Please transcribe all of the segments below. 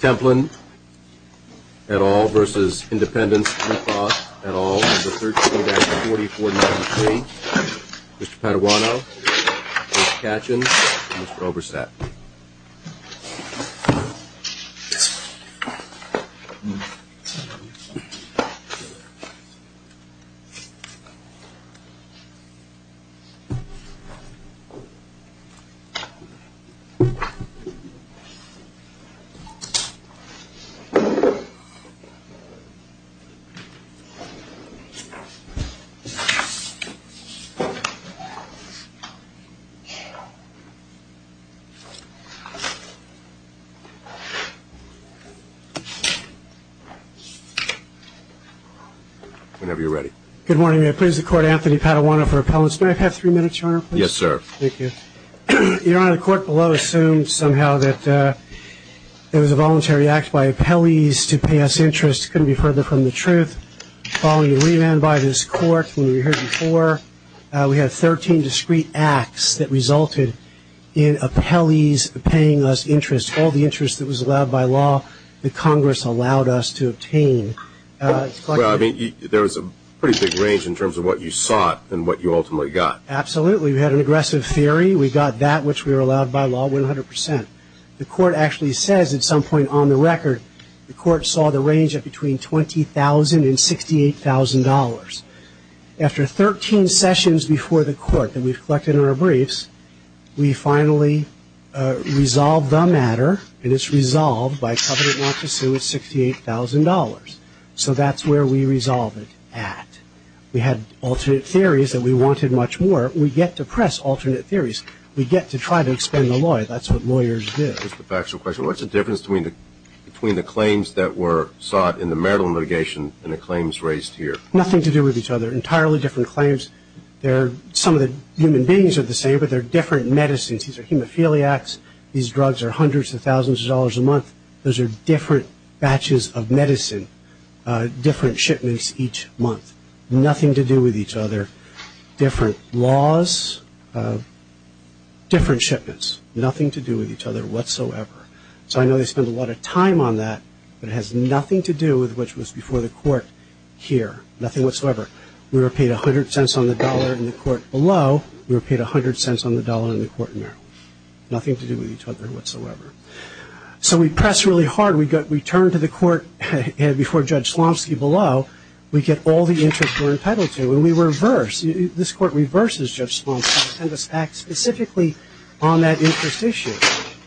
Templin et al. versus Independence Blue Cross et al. Number 13-4493. Mr. Paduano, Mr. Kachin, and Mr. Obersatt. Whenever you're ready. Good morning. I please the court, Anthony Paduano for appellants. May I have three minutes, Your Honor? Yes, sir. Thank you. Your Honor, the court below assumed somehow that it was a voluntary act by appellees to pay us interest. It couldn't be further from the truth. Following the remand by this court, when we were here before, we had 13 discrete acts that resulted in appellees paying us interest, all the interest that was allowed by law that Congress allowed us to obtain. Well, I mean, there was a pretty big range in terms of what you sought and what you ultimately got. Absolutely. We had an aggressive theory. We got that which we were allowed by law 100 percent. The court actually says at some point on the record the court saw the range of between $20,000 and $68,000. After 13 sessions before the court that we've collected in our briefs, we finally resolved the matter, and it's resolved by covenant not to sue at $68,000. So that's where we resolve it at. We had alternate theories that we wanted much more. We get to press alternate theories. We get to try to expand the law. That's what lawyers do. Just a factual question. What's the difference between the claims that were sought in the marital litigation and the claims raised here? Nothing to do with each other. Entirely different claims. Some of the human beings are the same, but they're different medicines. These are hemophiliacs. These drugs are hundreds of thousands of dollars a month. Those are different batches of medicine, different shipments each month. Nothing to do with each other. Different laws, different shipments. Nothing to do with each other whatsoever. So I know they spend a lot of time on that, but it has nothing to do with what was before the court here. Nothing whatsoever. We were paid $0.10 on the dollar in the court below. We were paid $0.10 on the dollar in the court in there. Nothing to do with each other whatsoever. So we press really hard. We turn to the court before Judge Slomski below. We get all the interest we're impelled to, and we reverse. This court reverses Judge Slomski and sends us back specifically on that interest issue.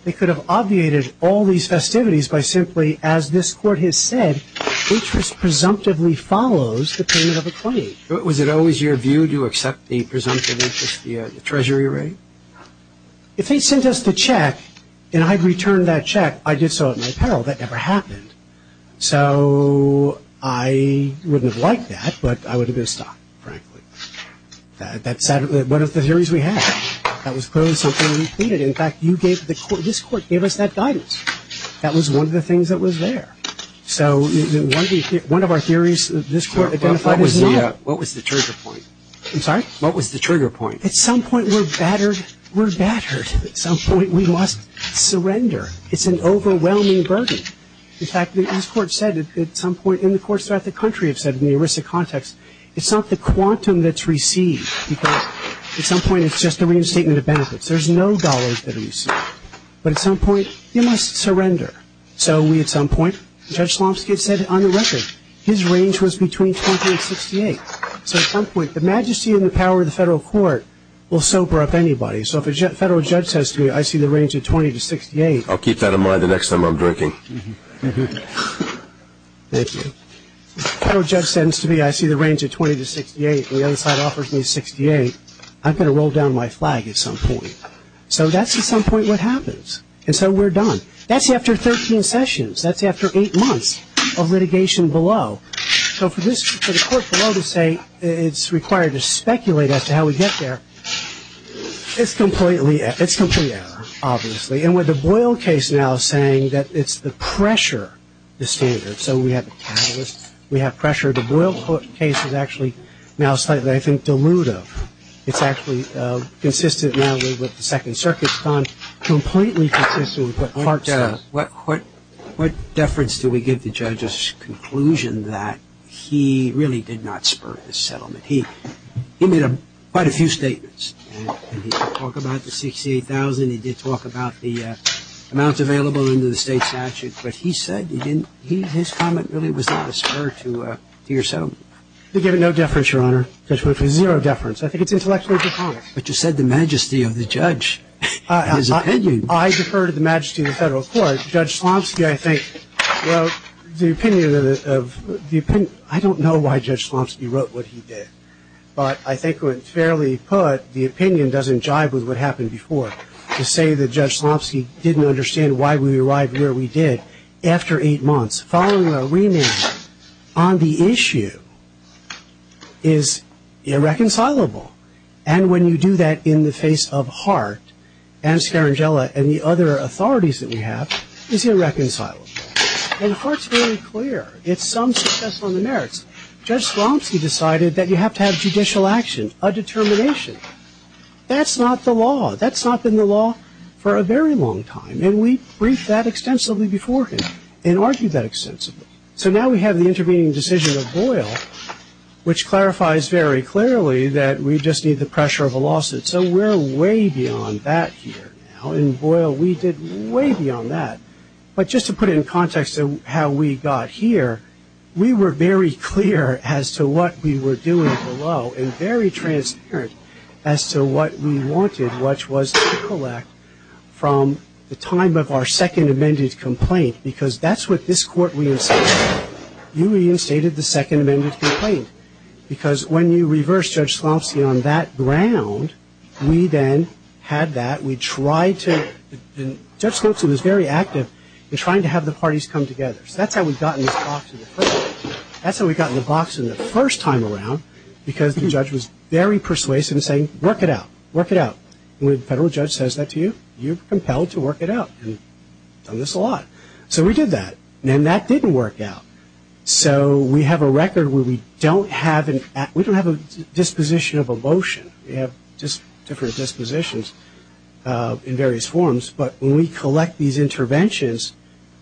They could have obviated all these festivities by simply, as this court has said, interest presumptively follows the payment of a claim. Was it always your view to accept the presumptive interest via the Treasury rate? If they sent us the check and I returned that check, I did so at my peril. That never happened. So I wouldn't have liked that, but I would have been stopped, frankly. That's one of the theories we had. That was clearly something we needed. In fact, this court gave us that guidance. That was one of the things that was there. So one of our theories this court identified is not. What was the trigger point? I'm sorry? What was the trigger point? At some point we're battered. We're battered. At some point we must surrender. It's an overwhelming burden. In fact, this court said at some point, and the courts throughout the country have said in the ERISA context, it's not the quantum that's received. At some point it's just the reinstatement of benefits. There's no dollars that are used. But at some point you must surrender. So we at some point, Judge Slomski said on the record, his range was between 20 and 68. So at some point the majesty and the power of the federal court will sober up anybody. So if a federal judge says to me I see the range of 20 to 68. I'll keep that in mind the next time I'm drinking. Thank you. If a federal judge says to me I see the range of 20 to 68 and the other side offers me 68, I'm going to roll down my flag at some point. So that's at some point what happens. And so we're done. That's after 13 sessions. That's after eight months of litigation below. So for the court below to say it's required to speculate as to how we get there, it's complete error, obviously. And with the Boyle case now saying that it's the pressure, the standard. So we have the catalyst. We have pressure. The Boyle case is actually now slightly, I think, dilutive. It's actually consistent now with what the Second Circuit's done, completely consistent with what Hart said. What deference do we give the judge's conclusion that he really did not spur his settlement? He made quite a few statements. He did talk about the 68,000. He did talk about the amounts available under the state statute. But he said his comment really was not a spur to your settlement. We give it no deference, Your Honor. We give it zero deference. I think it's intellectually a good comment. But you said the majesty of the judge and his opinion. I defer to the majesty of the federal court. Judge Slomski, I think, wrote the opinion of the opinion. I don't know why Judge Slomski wrote what he did. But I think, fairly put, the opinion doesn't jive with what happened before. To say that Judge Slomski didn't understand why we arrived where we did after eight months, following a remand on the issue, is irreconcilable. And when you do that in the face of Hart and Scarangella and the other authorities that we have, is irreconcilable. And Hart's very clear. It's some success on the merits. Judge Slomski decided that you have to have judicial action, a determination. That's not the law. That's not been the law for a very long time. And we briefed that extensively before him and argued that extensively. So now we have the intervening decision of Boyle, which clarifies very clearly that we just need the pressure of a lawsuit. So we're way beyond that here. In Boyle, we did way beyond that. But just to put it in context of how we got here, we were very clear as to what we were doing below and very transparent as to what we wanted, which was to collect from the time of our second amended complaint, because that's what this Court reinstated. You reinstated the second amended complaint, because when you reverse Judge Slomski on that ground, we then had that. We tried to – and Judge Slomski was very active in trying to have the parties come together. So that's how we got in this box in the first place. That's how we got in the box in the first time around, because the judge was very persuasive in saying, work it out, work it out. And when a federal judge says that to you, you're compelled to work it out. And we've done this a lot. So we did that. And that didn't work out. So we have a record where we don't have a disposition of emotion. We have different dispositions in various forms. But when we collect these interventions,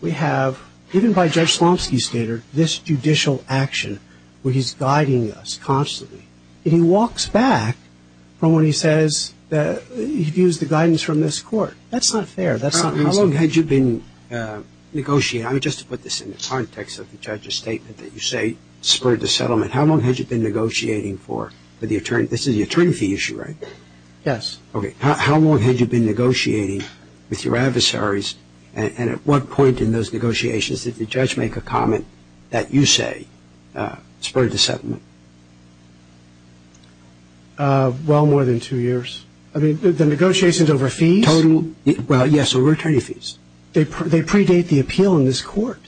we have, even by Judge Slomski's standard, this judicial action where he's guiding us constantly. And he walks back from when he says that he views the guidance from this Court. That's not fair. That's not reasonable. How long had you been negotiating? I mean, just to put this in the context of the judge's statement that you say spurred the settlement, how long had you been negotiating for the attorney? This is the attorney fee issue, right? Yes. Okay. How long had you been negotiating with your adversaries? And at what point in those negotiations did the judge make a comment that you say spurred the settlement? Well, more than two years. I mean, the negotiations over fees? Total. Well, yes, over attorney fees. They predate the appeal in this Court.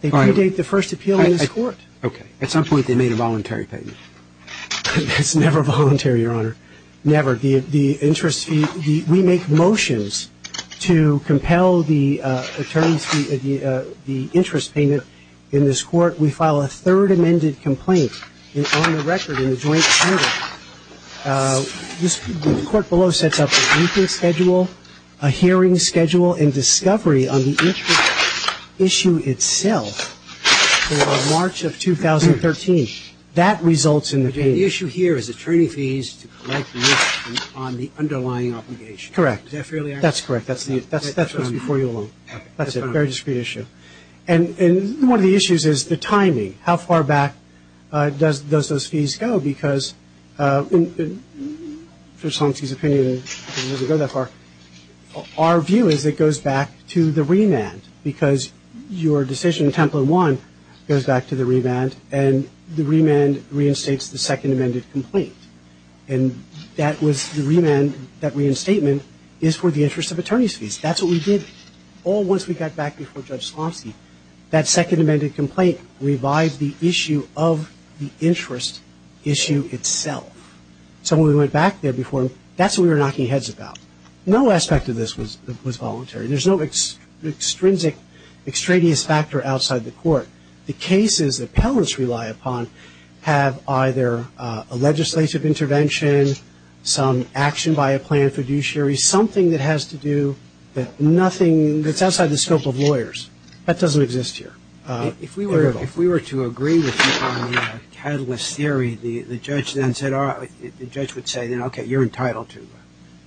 They predate the first appeal in this Court. Okay. At some point they made a voluntary payment. That's never voluntary, Your Honor. Never. The interest fee, we make motions to compel the attorney's fee, the interest payment in this Court. We file a third amended complaint on the record in the joint charter. The Court below sets up a briefing schedule, a hearing schedule, and discovery on the issue itself for March of 2013. That results in the payment. The issue here is attorney fees to collect the risk on the underlying obligation. Correct. Is that fairly accurate? That's correct. That's what's before you, Your Honor. That's a very discreet issue. And one of the issues is the timing. How far back does those fees go? Because, in Judge Slomsky's opinion, it doesn't go that far. Our view is it goes back to the remand because your decision, Template 1, goes back to the remand, and the remand reinstates the second amended complaint. And that was the remand, that reinstatement, is for the interest of attorney's fees. That's what we did all once we got back before Judge Slomsky. That second amended complaint revised the issue of the interest issue itself. So when we went back there before, that's what we were knocking heads about. No aspect of this was voluntary. There's no extrinsic, extraneous factor outside the Court. The cases that appellants rely upon have either a legislative intervention, some action by a planned fiduciary, something that has to do with nothing that's outside the scope of lawyers. That doesn't exist here. If we were to agree with you on the catalyst theory, the judge then said, all right, the judge would say, okay, you're entitled to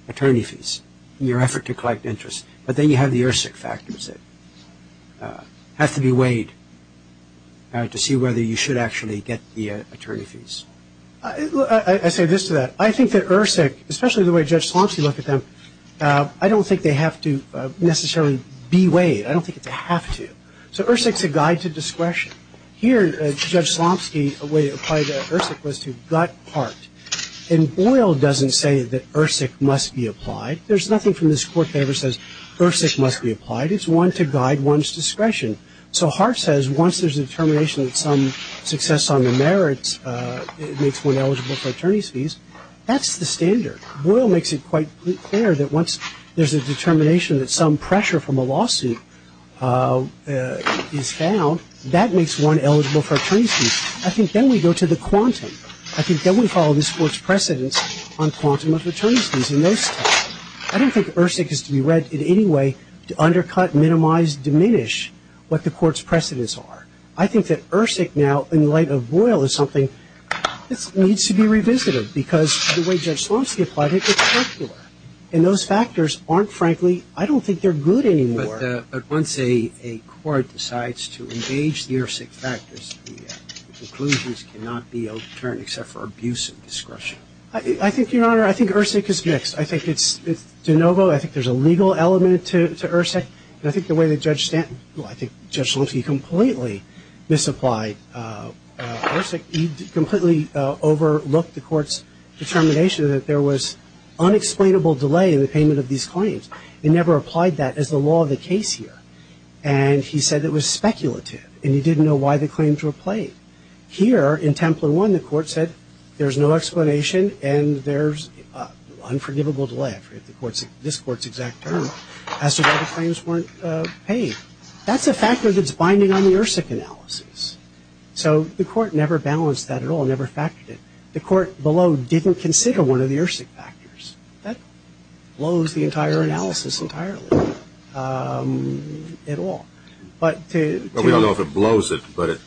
attorney fees in your effort to collect interest. But then you have the ERSIC factors that have to be weighed to see whether you should actually get the attorney fees. I say this to that. I think that ERSIC, especially the way Judge Slomsky looked at them, I don't think they have to necessarily be weighed. I don't think they have to. So ERSIC's a guide to discretion. Here, Judge Slomsky, a way to apply ERSIC was to gut Hart. And Boyle doesn't say that ERSIC must be applied. There's nothing from this Court that ever says ERSIC must be applied. It's one to guide one's discretion. So Hart says once there's a determination that some success on the merits makes one eligible for attorney's fees, that's the standard. Boyle makes it quite clear that once there's a determination that some pressure from a lawsuit is found, that makes one eligible for attorney's fees. I think then we go to the quantum. I think then we follow this Court's precedence on quantum of attorney's fees. I don't think ERSIC is to be read in any way to undercut, minimize, diminish what the Court's precedence are. I think that ERSIC now, in light of Boyle, is something that needs to be revisited because the way Judge Slomsky applied it, it's circular. And those factors aren't, frankly, I don't think they're good anymore. But once a court decides to engage the ERSIC factors, the conclusions cannot be overturned except for abuse of discretion. I think, Your Honor, I think ERSIC is mixed. I think it's de novo. I think there's a legal element to ERSIC. And I think the way that Judge Slomsky completely misapplied ERSIC, he completely overlooked the Court's determination that there was unexplainable delay in the payment of these claims. He never applied that as the law of the case here. And he said it was speculative, and he didn't know why the claims were played. Here, in Templar I, the Court said there's no explanation and there's unforgivable delay. I forget this Court's exact term. As to why the claims weren't paid. That's a factor that's binding on the ERSIC analysis. So the Court never balanced that at all, never factored it. The Court below didn't consider one of the ERSIC factors. That blows the entire analysis entirely at all. But to – But we don't know if it blows it, but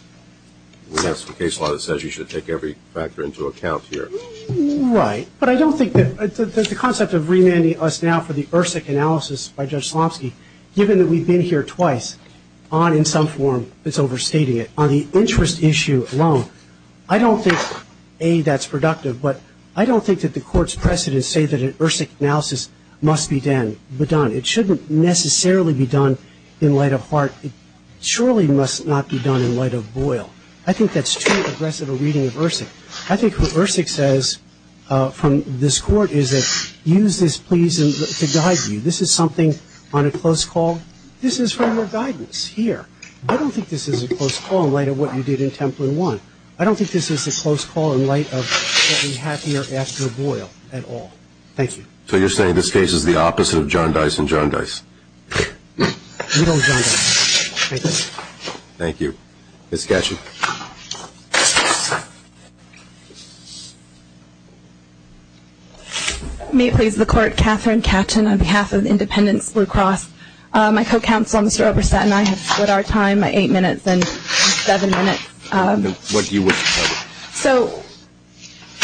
that's the case law that says you should take every factor into account here. Right. But I don't think that the concept of remanding us now for the ERSIC analysis by Judge Slomsky, given that we've been here twice, on in some form it's overstating it, on the interest issue alone, I don't think, A, that's productive, but I don't think that the Court's precedents say that an ERSIC analysis must be done. It shouldn't necessarily be done in light of Hart. It surely must not be done in light of Boyle. I think that's too aggressive a reading of ERSIC. I think what ERSIC says from this Court is that use this, please, to guide you. This is something on a close call. This is from your guidance here. I don't think this is a close call in light of what you did in Templin I. I don't think this is a close call in light of what we have here after Boyle at all. Thank you. So you're saying this case is the opposite of John Dice and John Dice? No, John Dice. Thank you. Thank you. Ms. Gatchee. May it please the Court, Catherine Gatchee on behalf of Independence Blue Cross. My co-counsel, Mr. Obristat, and I have split our time by eight minutes and seven minutes. What do you want to cover? So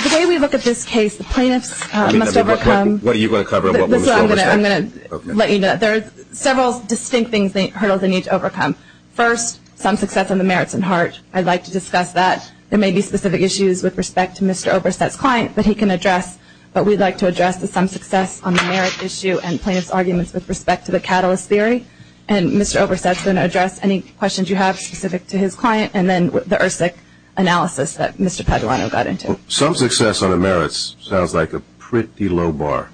the way we look at this case, the plaintiffs must overcome. What are you going to cover and what will Mr. Obristat do? I'm going to let you know that there are several distinct things, the hurdles they need to overcome. First, some success on the merits in Hart. I'd like to discuss that. There may be specific issues with respect to Mr. Obristat's client that he can address, but we'd like to address the some success on the merit issue and plaintiff's arguments with respect to the catalyst theory. And Mr. Obristat is going to address any questions you have specific to his client and then the ERSIC analysis that Mr. Paduano got into. Some success on the merits sounds like a pretty low bar.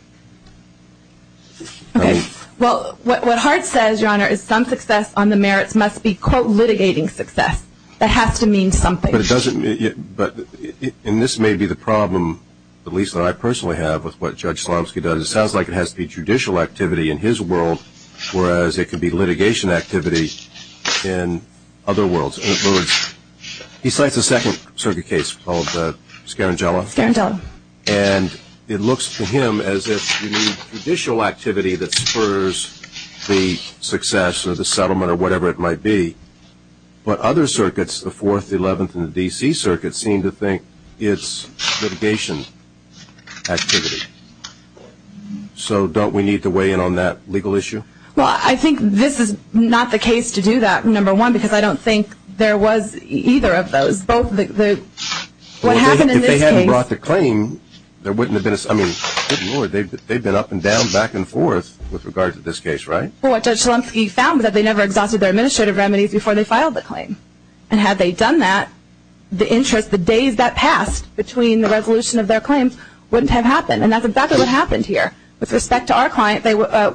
Okay. Well, what Hart says, Your Honor, is some success on the merits must be, quote, litigating success. That has to mean something. But it doesn't. And this may be the problem, at least that I personally have, with what Judge Slomski does. It sounds like it has to be judicial activity in his world, whereas it could be litigation activity in other worlds. In other words, he cites a second circuit case called the Scarangella. Scarangella. And it looks to him as if you need judicial activity that spurs the success or the settlement or whatever it might be. But other circuits, the Fourth, the Eleventh, and the D.C. Circuit seem to think it's litigation activity. So don't we need to weigh in on that legal issue? Well, I think this is not the case to do that, number one, because I don't think there was either of those. Well, if they hadn't brought the claim, there wouldn't have been a summing. Good Lord, they've been up and down, back and forth with regard to this case, right? Well, what Judge Slomski found was that they never exhausted their administrative remedies before they filed the claim. And had they done that, the interest, the days that passed between the resolution of their claims wouldn't have happened. And that's exactly what happened here. With respect to our client,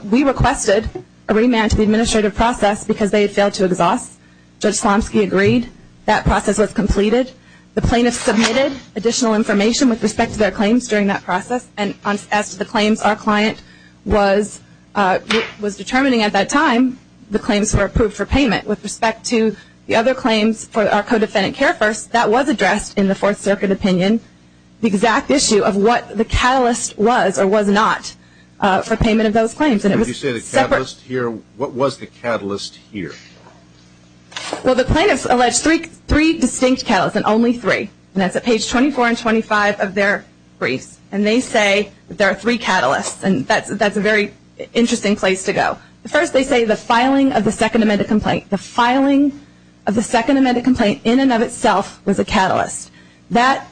we requested a remand to the administrative process because they had failed to exhaust. Judge Slomski agreed. That process was completed. The plaintiffs submitted additional information with respect to their claims during that process. And as to the claims, our client was determining at that time the claims were approved for payment. With respect to the other claims for our co-defendant care first, that was addressed in the Fourth Circuit opinion, the exact issue of what the catalyst was or was not for payment of those claims. Did you say the catalyst here? What was the catalyst here? Well, the plaintiffs alleged three distinct catalysts, and only three. And that's at page 24 and 25 of their briefs. And they say there are three catalysts, and that's a very interesting place to go. First, they say the filing of the Second Amendment complaint. The filing of the Second Amendment complaint in and of itself was a catalyst. That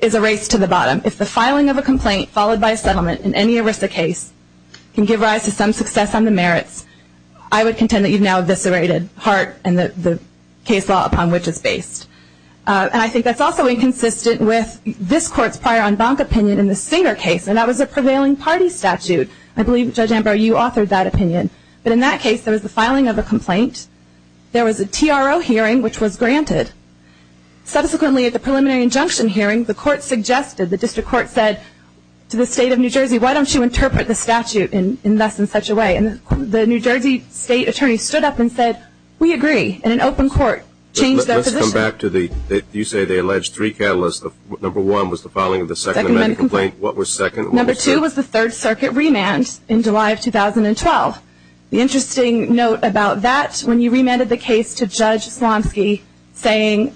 is a race to the bottom. If the filing of a complaint followed by a settlement in any ERISA case can give rise to some success on the merits, I would contend that you've now eviscerated Hart and the case law upon which it's based. And I think that's also inconsistent with this Court's prior en banc opinion in the Singer case, and that was a prevailing party statute. I believe, Judge Amber, you authored that opinion. But in that case, there was the filing of a complaint. There was a TRO hearing, which was granted. Subsequently, at the preliminary injunction hearing, the court suggested, the district court said to the state of New Jersey, why don't you interpret the statute in less than such a way? And the New Jersey state attorney stood up and said, we agree, in an open court, change their position. Let's come back to the, you say they alleged three catalysts. Number one was the filing of the Second Amendment complaint. What was second? Number two was the Third Circuit remand in July of 2012. The interesting note about that, when you remanded the case to Judge Slomski, saying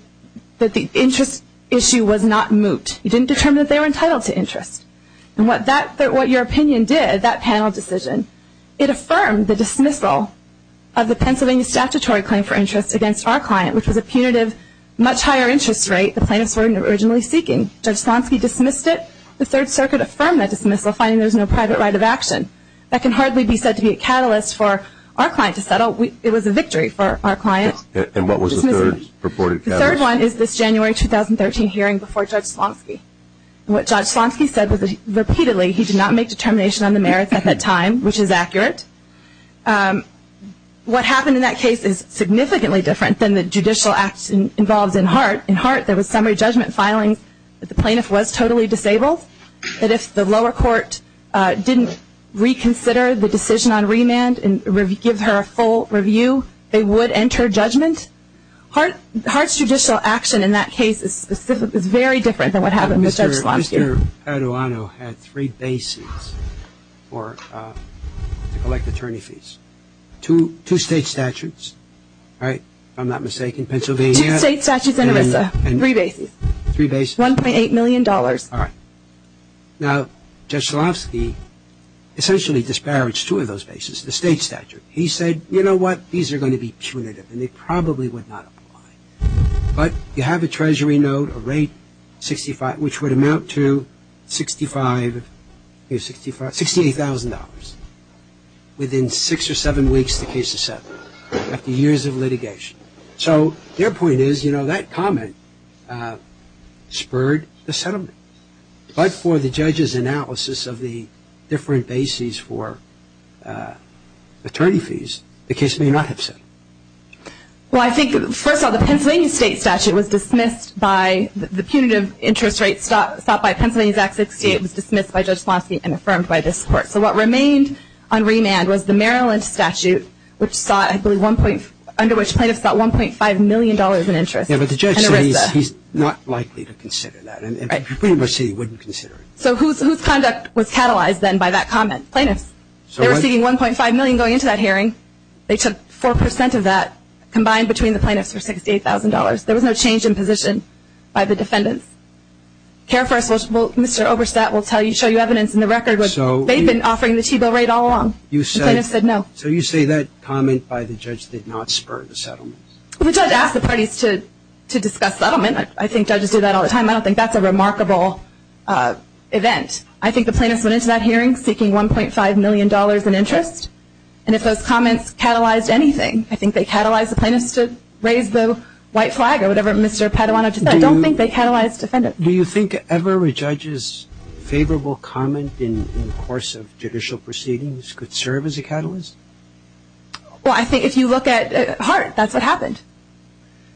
that the interest issue was not moot. You didn't determine that they were entitled to interest. And what your opinion did, that panel decision, it affirmed the dismissal of the Pennsylvania statutory claim for interest against our client, which was a punitive, much higher interest rate the plaintiffs were originally seeking. Judge Slomski dismissed it. The Third Circuit affirmed that dismissal, finding there was no private right of action. That can hardly be said to be a catalyst for our client to settle. It was a victory for our client. And what was the third purported catalyst? The third one is this January 2013 hearing before Judge Slomski. What Judge Slomski said was that, repeatedly, he did not make determination on the merits at that time, which is accurate. What happened in that case is significantly different than the judicial acts involved in Hart. In Hart, there was summary judgment filing that the plaintiff was totally disabled, that if the lower court didn't reconsider the decision on remand and give her a full review, they would enter judgment. Hart's judicial action in that case is very different than what happened with Judge Slomski. Mr. Paduano had three bases to collect attorney fees, two state statutes, right, if I'm not mistaken, Pennsylvania. Two state statutes in ERISA, three bases. Three bases. $1.8 million. All right. Now, Judge Slomski essentially disparaged two of those bases, the state statute. He said, you know what, these are going to be punitive, and they probably would not apply. But you have a treasury note, a rate, 65, which would amount to $68,000 within six or seven weeks of the case is settled, after years of litigation. So their point is, you know, that comment spurred the settlement. But for the judge's analysis of the different bases for attorney fees, the case may not have settled. Well, I think, first of all, the Pennsylvania state statute was dismissed by the punitive interest rate sought by Pennsylvania's Act 68 was dismissed by Judge Slomski and affirmed by this Court. So what remained on remand was the Maryland statute, which sought, I believe, under which plaintiffs sought $1.5 million in interest in ERISA. Yeah, but the judge said he's not likely to consider that. Right. He pretty much said he wouldn't consider it. So whose conduct was catalyzed then by that comment? Plaintiffs. They were seeking $1.5 million going into that hearing. They took 4% of that combined between the plaintiffs for $68,000. There was no change in position by the defendants. Mr. Oberstadt will show you evidence in the record. They've been offering the T-bill rate all along. The plaintiffs said no. So you say that comment by the judge did not spur the settlement. The judge asked the parties to discuss settlement. I think judges do that all the time. I don't think that's a remarkable event. I think the plaintiffs went into that hearing seeking $1.5 million in interest. And if those comments catalyzed anything, I think they catalyzed the plaintiffs to raise the white flag or whatever Mr. Paduano just said. I don't think they catalyzed defendants. Do you think ever a judge's favorable comment in the course of judicial proceedings could serve as a catalyst? Well, I think if you look at Hart, that's what happened.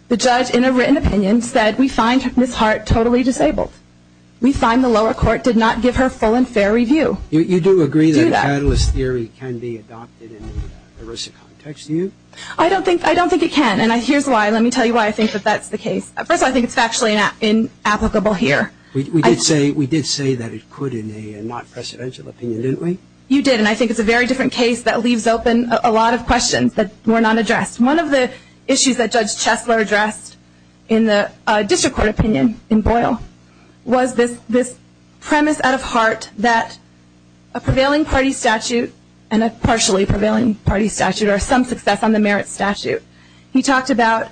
The judge, in a written opinion, said we find Ms. Hart totally disabled. We find the lower court did not give her full and fair review. You do agree that catalyst theory can be adopted in the ERISA context, do you? I don't think it can, and here's why. Let me tell you why I think that that's the case. First, I think it's factually inapplicable here. We did say that it could in a not-presidential opinion, didn't we? You did, and I think it's a very different case that leaves open a lot of questions that were not addressed. One of the issues that Judge Chesler addressed in the district court opinion in Boyle was this premise out of Hart that a prevailing party statute and a partially prevailing party statute are some success on the merits statute. He talked about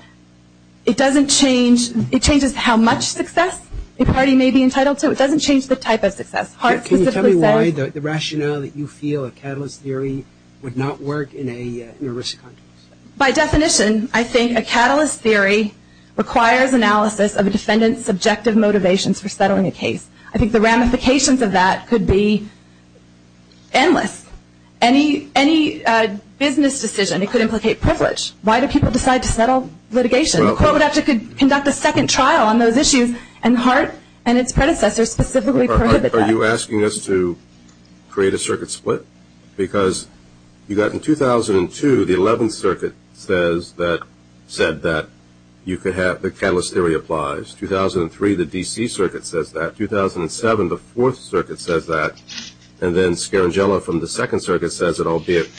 it doesn't change, it changes how much success a party may be entitled to. It doesn't change the type of success. Can you tell me why the rationale that you feel a catalyst theory would not work in an ERISA context? By definition, I think a catalyst theory requires analysis of a defendant's subjective motivations for settling a case. I think the ramifications of that could be endless. Any business decision, it could implicate privilege. Why do people decide to settle litigation? The court would have to conduct a second trial on those issues, and Hart and its predecessors specifically prohibited that. Are you asking us to create a circuit split? Because you've got in 2002, the 11th Circuit said that you could have the catalyst theory applies. 2003, the D.C. Circuit says that. 2007, the 4th Circuit says that. And then Scaringella from the 2nd Circuit says it, albeit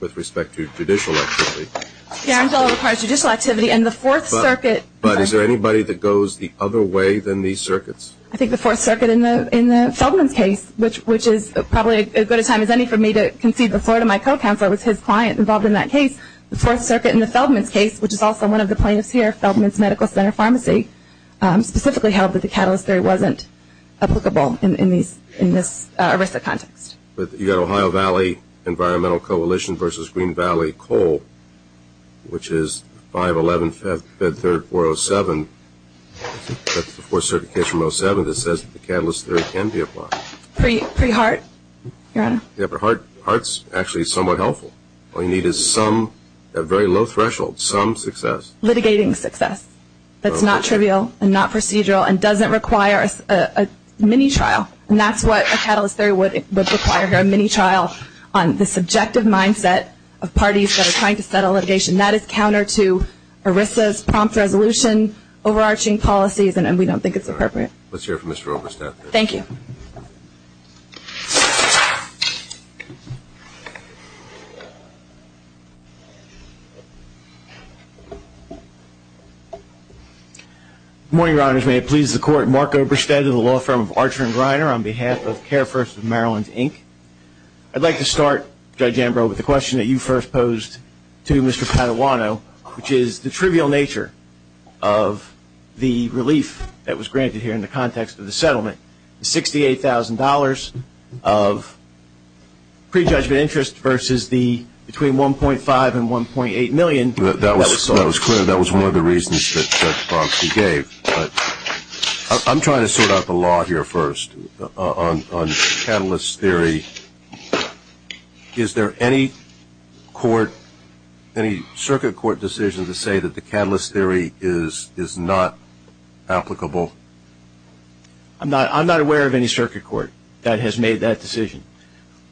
with respect to judicial activity. Scaringella requires judicial activity, and the 4th Circuit. But is there anybody that goes the other way than these circuits? I think the 4th Circuit in the Feldman's case, which is probably as good a time as any for me to concede the floor to my co-counselor, was his client involved in that case. The 4th Circuit in the Feldman's case, which is also one of the plaintiffs here, Feldman's Medical Center Pharmacy, specifically held that the catalyst theory wasn't applicable in this ERISA context. But you've got Ohio Valley Environmental Coalition versus Green Valley Coal, which is 5-11-5-3-4-0-7. That's the 4th Circuit case from 2007 that says the catalyst theory can be applied. Pre-HART, Your Honor? Yeah, but HART's actually somewhat helpful. All you need is some, a very low threshold, some success. Litigating success that's not trivial and not procedural and doesn't require a mini-trial. And that's what a catalyst theory would require here, on the subjective mindset of parties that are trying to settle litigation. That is counter to ERISA's prompt resolution, overarching policies, and we don't think it's appropriate. Let's hear it from Mr. Obersted. Thank you. Good morning, Your Honors. May it please the Court, Mark Obersted of the law firm of Archer & Greiner on behalf of Carefirst of Maryland, Inc. I'd like to start, Judge Ambrose, with the question that you first posed to Mr. Padawano, which is the trivial nature of the relief that was granted here in the context of the settlement. The $68,000 of prejudgment interest versus the between 1.5 and 1.8 million that was sought. That was clear. That was one of the reasons that Judge Barnsley gave. I'm trying to sort out the law here first on catalyst theory. Is there any circuit court decision to say that the catalyst theory is not applicable? I'm not aware of any circuit court that has made that decision.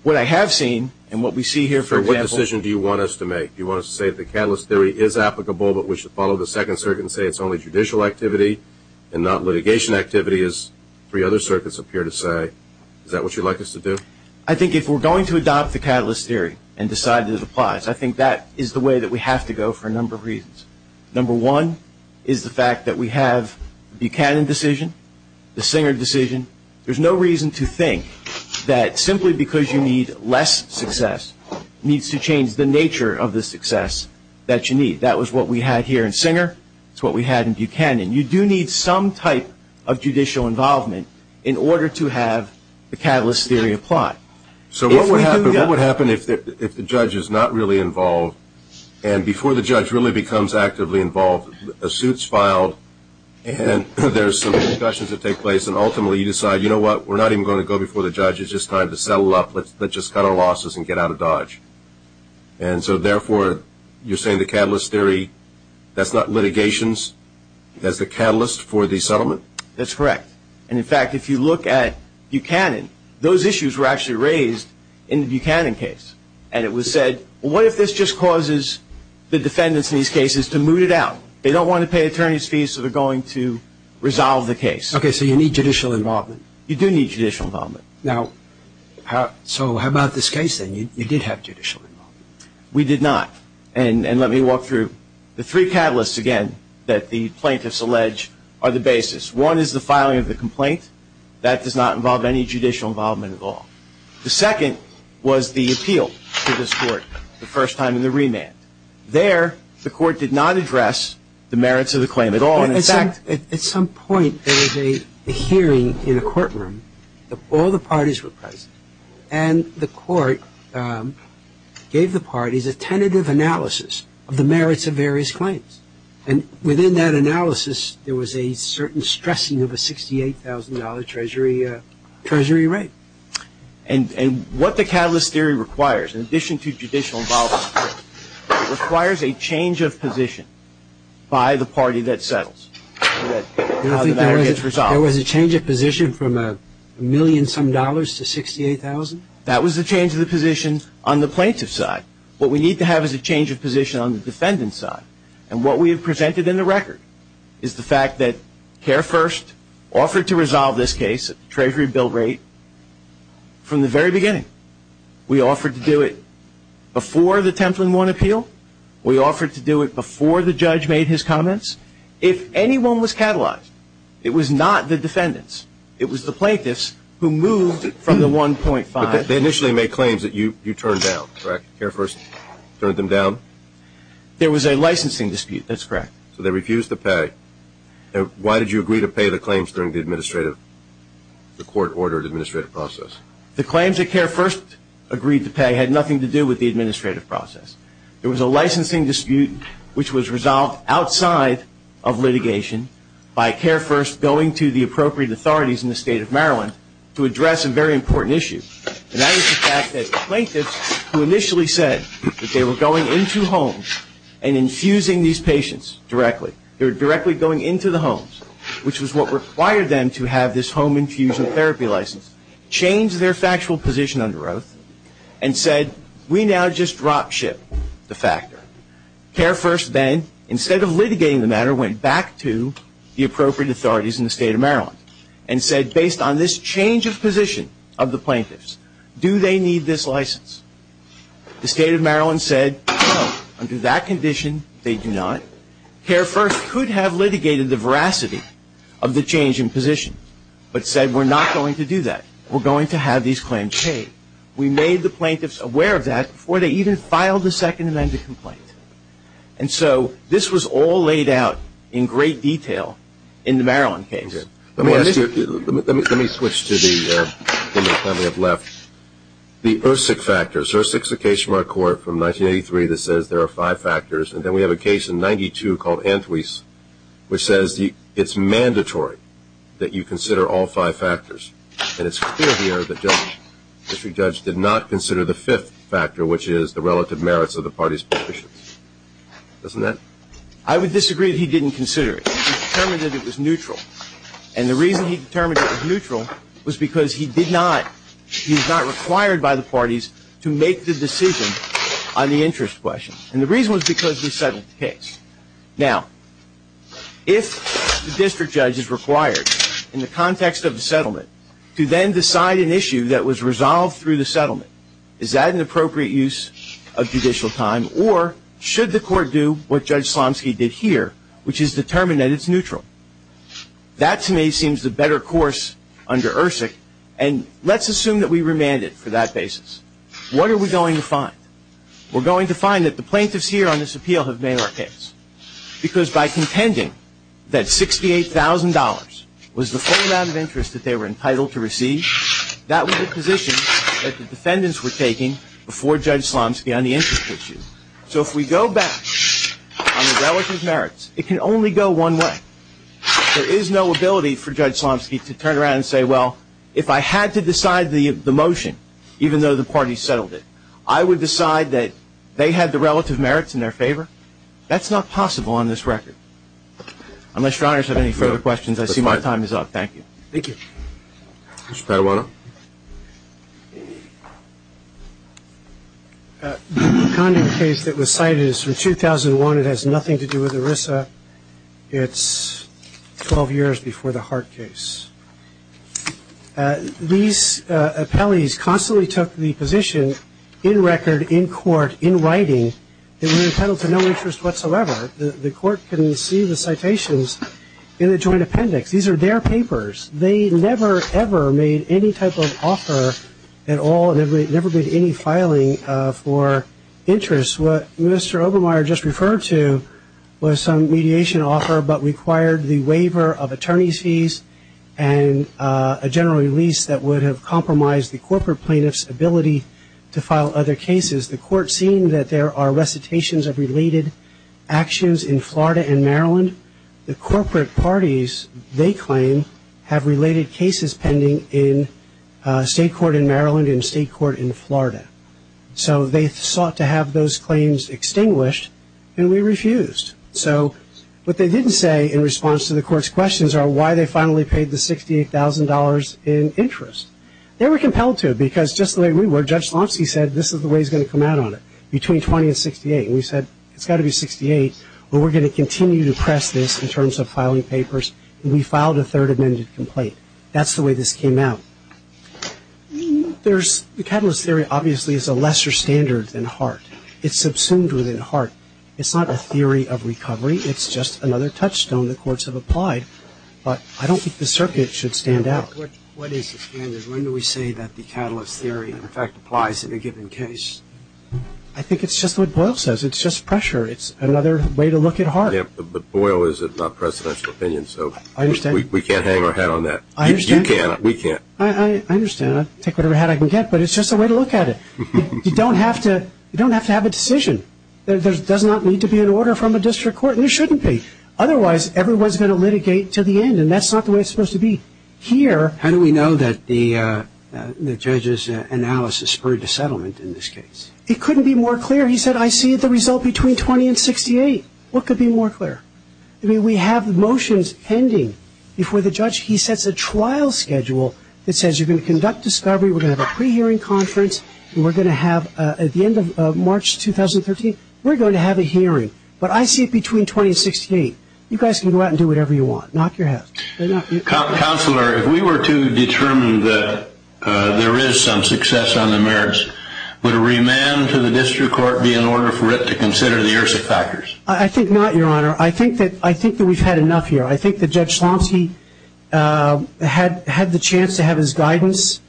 What I have seen and what we see here, for example – So what decision do you want us to make? Do you want us to say the catalyst theory is applicable, but we should follow the second circuit and say it's only judicial activity and not litigation activity, as three other circuits appear to say? Is that what you'd like us to do? I think if we're going to adopt the catalyst theory and decide that it applies, I think that is the way that we have to go for a number of reasons. Number one is the fact that we have the Buchanan decision, the Singer decision. There's no reason to think that simply because you need less success needs to change the nature of the success that you need. That was what we had here in Singer. That's what we had in Buchanan. You do need some type of judicial involvement in order to have the catalyst theory apply. So what would happen if the judge is not really involved and before the judge really becomes actively involved, a suit's filed, and there's some discussions that take place, and ultimately you decide, you know what, we're not even going to go before the judge. It's just time to settle up. Let's just cut our losses and get out of Dodge. And so, therefore, you're saying the catalyst theory, that's not litigations, that's the catalyst for the settlement? That's correct. And, in fact, if you look at Buchanan, those issues were actually raised in the Buchanan case, and it was said, well, what if this just causes the defendants in these cases to moot it out? They don't want to pay attorney's fees, so they're going to resolve the case. Okay, so you need judicial involvement. You do need judicial involvement. Now, so how about this case, then? You did have judicial involvement. We did not, and let me walk through. The three catalysts, again, that the plaintiffs allege are the basis. One is the filing of the complaint. That does not involve any judicial involvement at all. The second was the appeal to this court the first time in the remand. There, the court did not address the merits of the claim at all. At some point, there was a hearing in a courtroom. All the parties were present, and the court gave the parties a tentative analysis of the merits of various claims. And within that analysis, there was a certain stressing of a $68,000 Treasury rate. And what the catalyst theory requires, in addition to judicial involvement, it requires a change of position by the party that settles how the matter gets resolved. You don't think there was a change of position from a million-some dollars to $68,000? That was a change of the position on the plaintiff's side. What we need to have is a change of position on the defendant's side. And what we have presented in the record is the fact that CareFirst offered to resolve this case, the Treasury bill rate, from the very beginning. We offered to do it before the Templin I appeal. We offered to do it before the judge made his comments. If anyone was catalyzed, it was not the defendants. It was the plaintiffs who moved from the 1.5. But they initially made claims that you turned down, correct? CareFirst turned them down? There was a licensing dispute. That's correct. So they refused to pay. Why did you agree to pay the claims during the court-ordered administrative process? The claims that CareFirst agreed to pay had nothing to do with the administrative process. There was a licensing dispute which was resolved outside of litigation by CareFirst going to the appropriate authorities in the state of Maryland to address a very important issue. And that was the fact that plaintiffs who initially said that they were going into homes and infusing these patients directly, they were directly going into the homes, which was what required them to have this home infusion therapy license, change their factual position under oath, and said, we now just drop ship the factor. CareFirst then, instead of litigating the matter, went back to the appropriate authorities in the state of Maryland and said, based on this change of position of the plaintiffs, do they need this license? The state of Maryland said, no, under that condition, they do not. CareFirst could have litigated the veracity of the change in position, but said, we're not going to do that. We're going to have these claims paid. We made the plaintiffs aware of that before they even filed the Second Amendment complaint. And so this was all laid out in great detail in the Maryland case. Let me switch to the time we have left. The IRSIC factors. IRSIC is a case from our court from 1983 that says there are five factors, and then we have a case in 1992 called Antwies, which says it's mandatory that you consider all five factors. And it's clear here that the district judge did not consider the fifth factor, which is the relative merits of the parties' positions. Doesn't that? I would disagree that he didn't consider it. He determined that it was neutral. And the reason he determined it was neutral was because he did not, he was not required by the parties to make the decision on the interest question. And the reason was because we settled the case. Now, if the district judge is required, in the context of a settlement, to then decide an issue that was resolved through the settlement, is that an appropriate use of judicial time, or should the court do what Judge Slomski did here, which is determine that it's neutral? That, to me, seems the better course under IRSIC, and let's assume that we remand it for that basis. What are we going to find? We're going to find that the plaintiffs here on this appeal have made our case. Because by contending that $68,000 was the full amount of interest that they were entitled to receive, that was the position that the defendants were taking before Judge Slomski on the interest issue. So if we go back on the relative merits, it can only go one way. There is no ability for Judge Slomski to turn around and say, well, if I had to decide the motion, even though the parties settled it, I would decide that they had the relative merits in their favor. That's not possible on this record. Unless your honors have any further questions, I see my time is up. Thank you. Thank you. Mr. Paduano. The conduct case that was cited is from 2001. It has nothing to do with ERISA. It's 12 years before the Hart case. These appellees constantly took the position in record, in court, in writing. They were entitled to no interest whatsoever. The court can see the citations in the joint appendix. These are their papers. They never, ever made any type of offer at all. They never made any filing for interest. What Mr. Obermeier just referred to was some mediation offer but required the waiver of attorney's fees and a general release that would have compromised the corporate plaintiff's ability to file other cases. The court, seeing that there are recitations of related actions in Florida and Maryland, the corporate parties, they claim, have related cases pending in state court in Maryland and state court in Florida. So they sought to have those claims extinguished, and we refused. So what they didn't say in response to the court's questions are why they finally paid the $68,000 in interest. They were compelled to because just the way we were, Judge Slomsky said this is the way he's going to come out on it, between 20 and 68. We said it's got to be 68 or we're going to continue to press this in terms of filing papers, and we filed a third amended complaint. That's the way this came out. The catalyst theory obviously is a lesser standard than Hart. It's subsumed within Hart. It's not a theory of recovery. It's just another touchstone the courts have applied. But I don't think the circuit should stand out. What is the standard? When do we say that the catalyst theory, in fact, applies in a given case? I think it's just what Boyle says. It's just pressure. It's another way to look at Hart. Yeah, but Boyle is a non-presidential opinion, so we can't hang our hat on that. I understand. You can't. We can't. I understand. I'll take whatever hat I can get, but it's just a way to look at it. You don't have to have a decision. There does not need to be an order from a district court, and there shouldn't be. Otherwise, everyone's going to litigate to the end, and that's not the way it's supposed to be here. How do we know that the judge's analysis spurred the settlement in this case? It couldn't be more clear. He said, I see the result between 20 and 68. What could be more clear? I mean, we have motions pending before the judge. He sets a trial schedule that says you're going to conduct discovery, we're going to have a pre-hearing conference, and we're going to have at the end of March 2013, we're going to have a hearing. But I see it between 20 and 68. You guys can go out and do whatever you want. Knock your hat. Counselor, if we were to determine that there is some success on the merits, would a remand to the district court be in order for it to consider the ERSIC factors? I think not, Your Honor. I think that we've had enough here. I think that Judge Schlomsky had the chance to have his guidance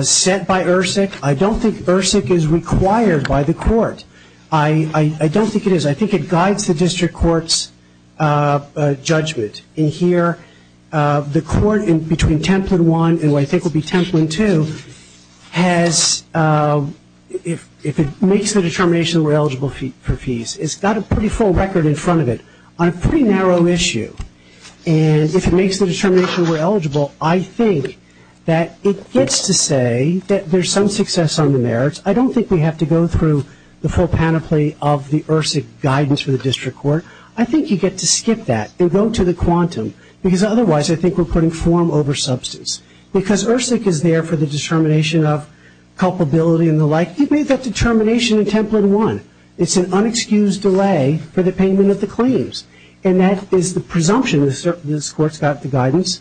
set by ERSIC. I don't think ERSIC is required by the court. I don't think it is. I think it guides the district court's judgment. In here, the court between Templin I, who I think will be Templin II, has, if it makes the determination we're eligible for fees, it's got a pretty full record in front of it on a pretty narrow issue. And if it makes the determination we're eligible, I think that it gets to say that there's some success on the merits. I don't think we have to go through the full panoply of the ERSIC guidance for the district court. I think you get to skip that and go to the quantum, because otherwise I think we're putting form over substance. Because ERSIC is there for the determination of culpability and the like. You've made that determination in Templin I. It's an unexcused delay for the payment of the claims. And that is the presumption this court's got the guidance.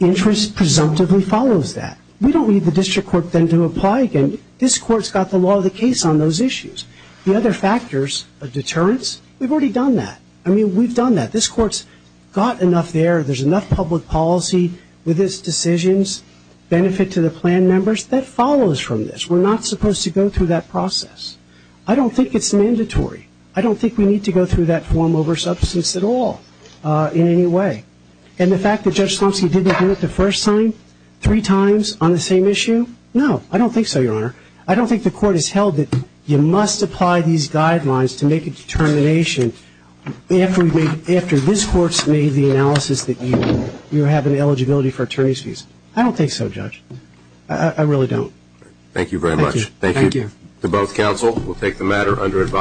Interest presumptively follows that. We don't need the district court then to apply again. This court's got the law of the case on those issues. The other factors, a deterrence, we've already done that. I mean, we've done that. This court's got enough there, there's enough public policy with its decisions, benefit to the plan members, that follows from this. We're not supposed to go through that process. I don't think it's mandatory. I don't think we need to go through that form over substance at all in any way. And the fact that Judge Slomsky didn't do it the first time, three times on the same issue, no. I don't think so, Your Honor. I don't think the court has held that you must apply these guidelines to make a determination after this court's made the analysis that you have an eligibility for attorney's fees. I don't think so, Judge. Thank you very much. Thank you. Thank you. To both counsel, we'll take the matter under advisory.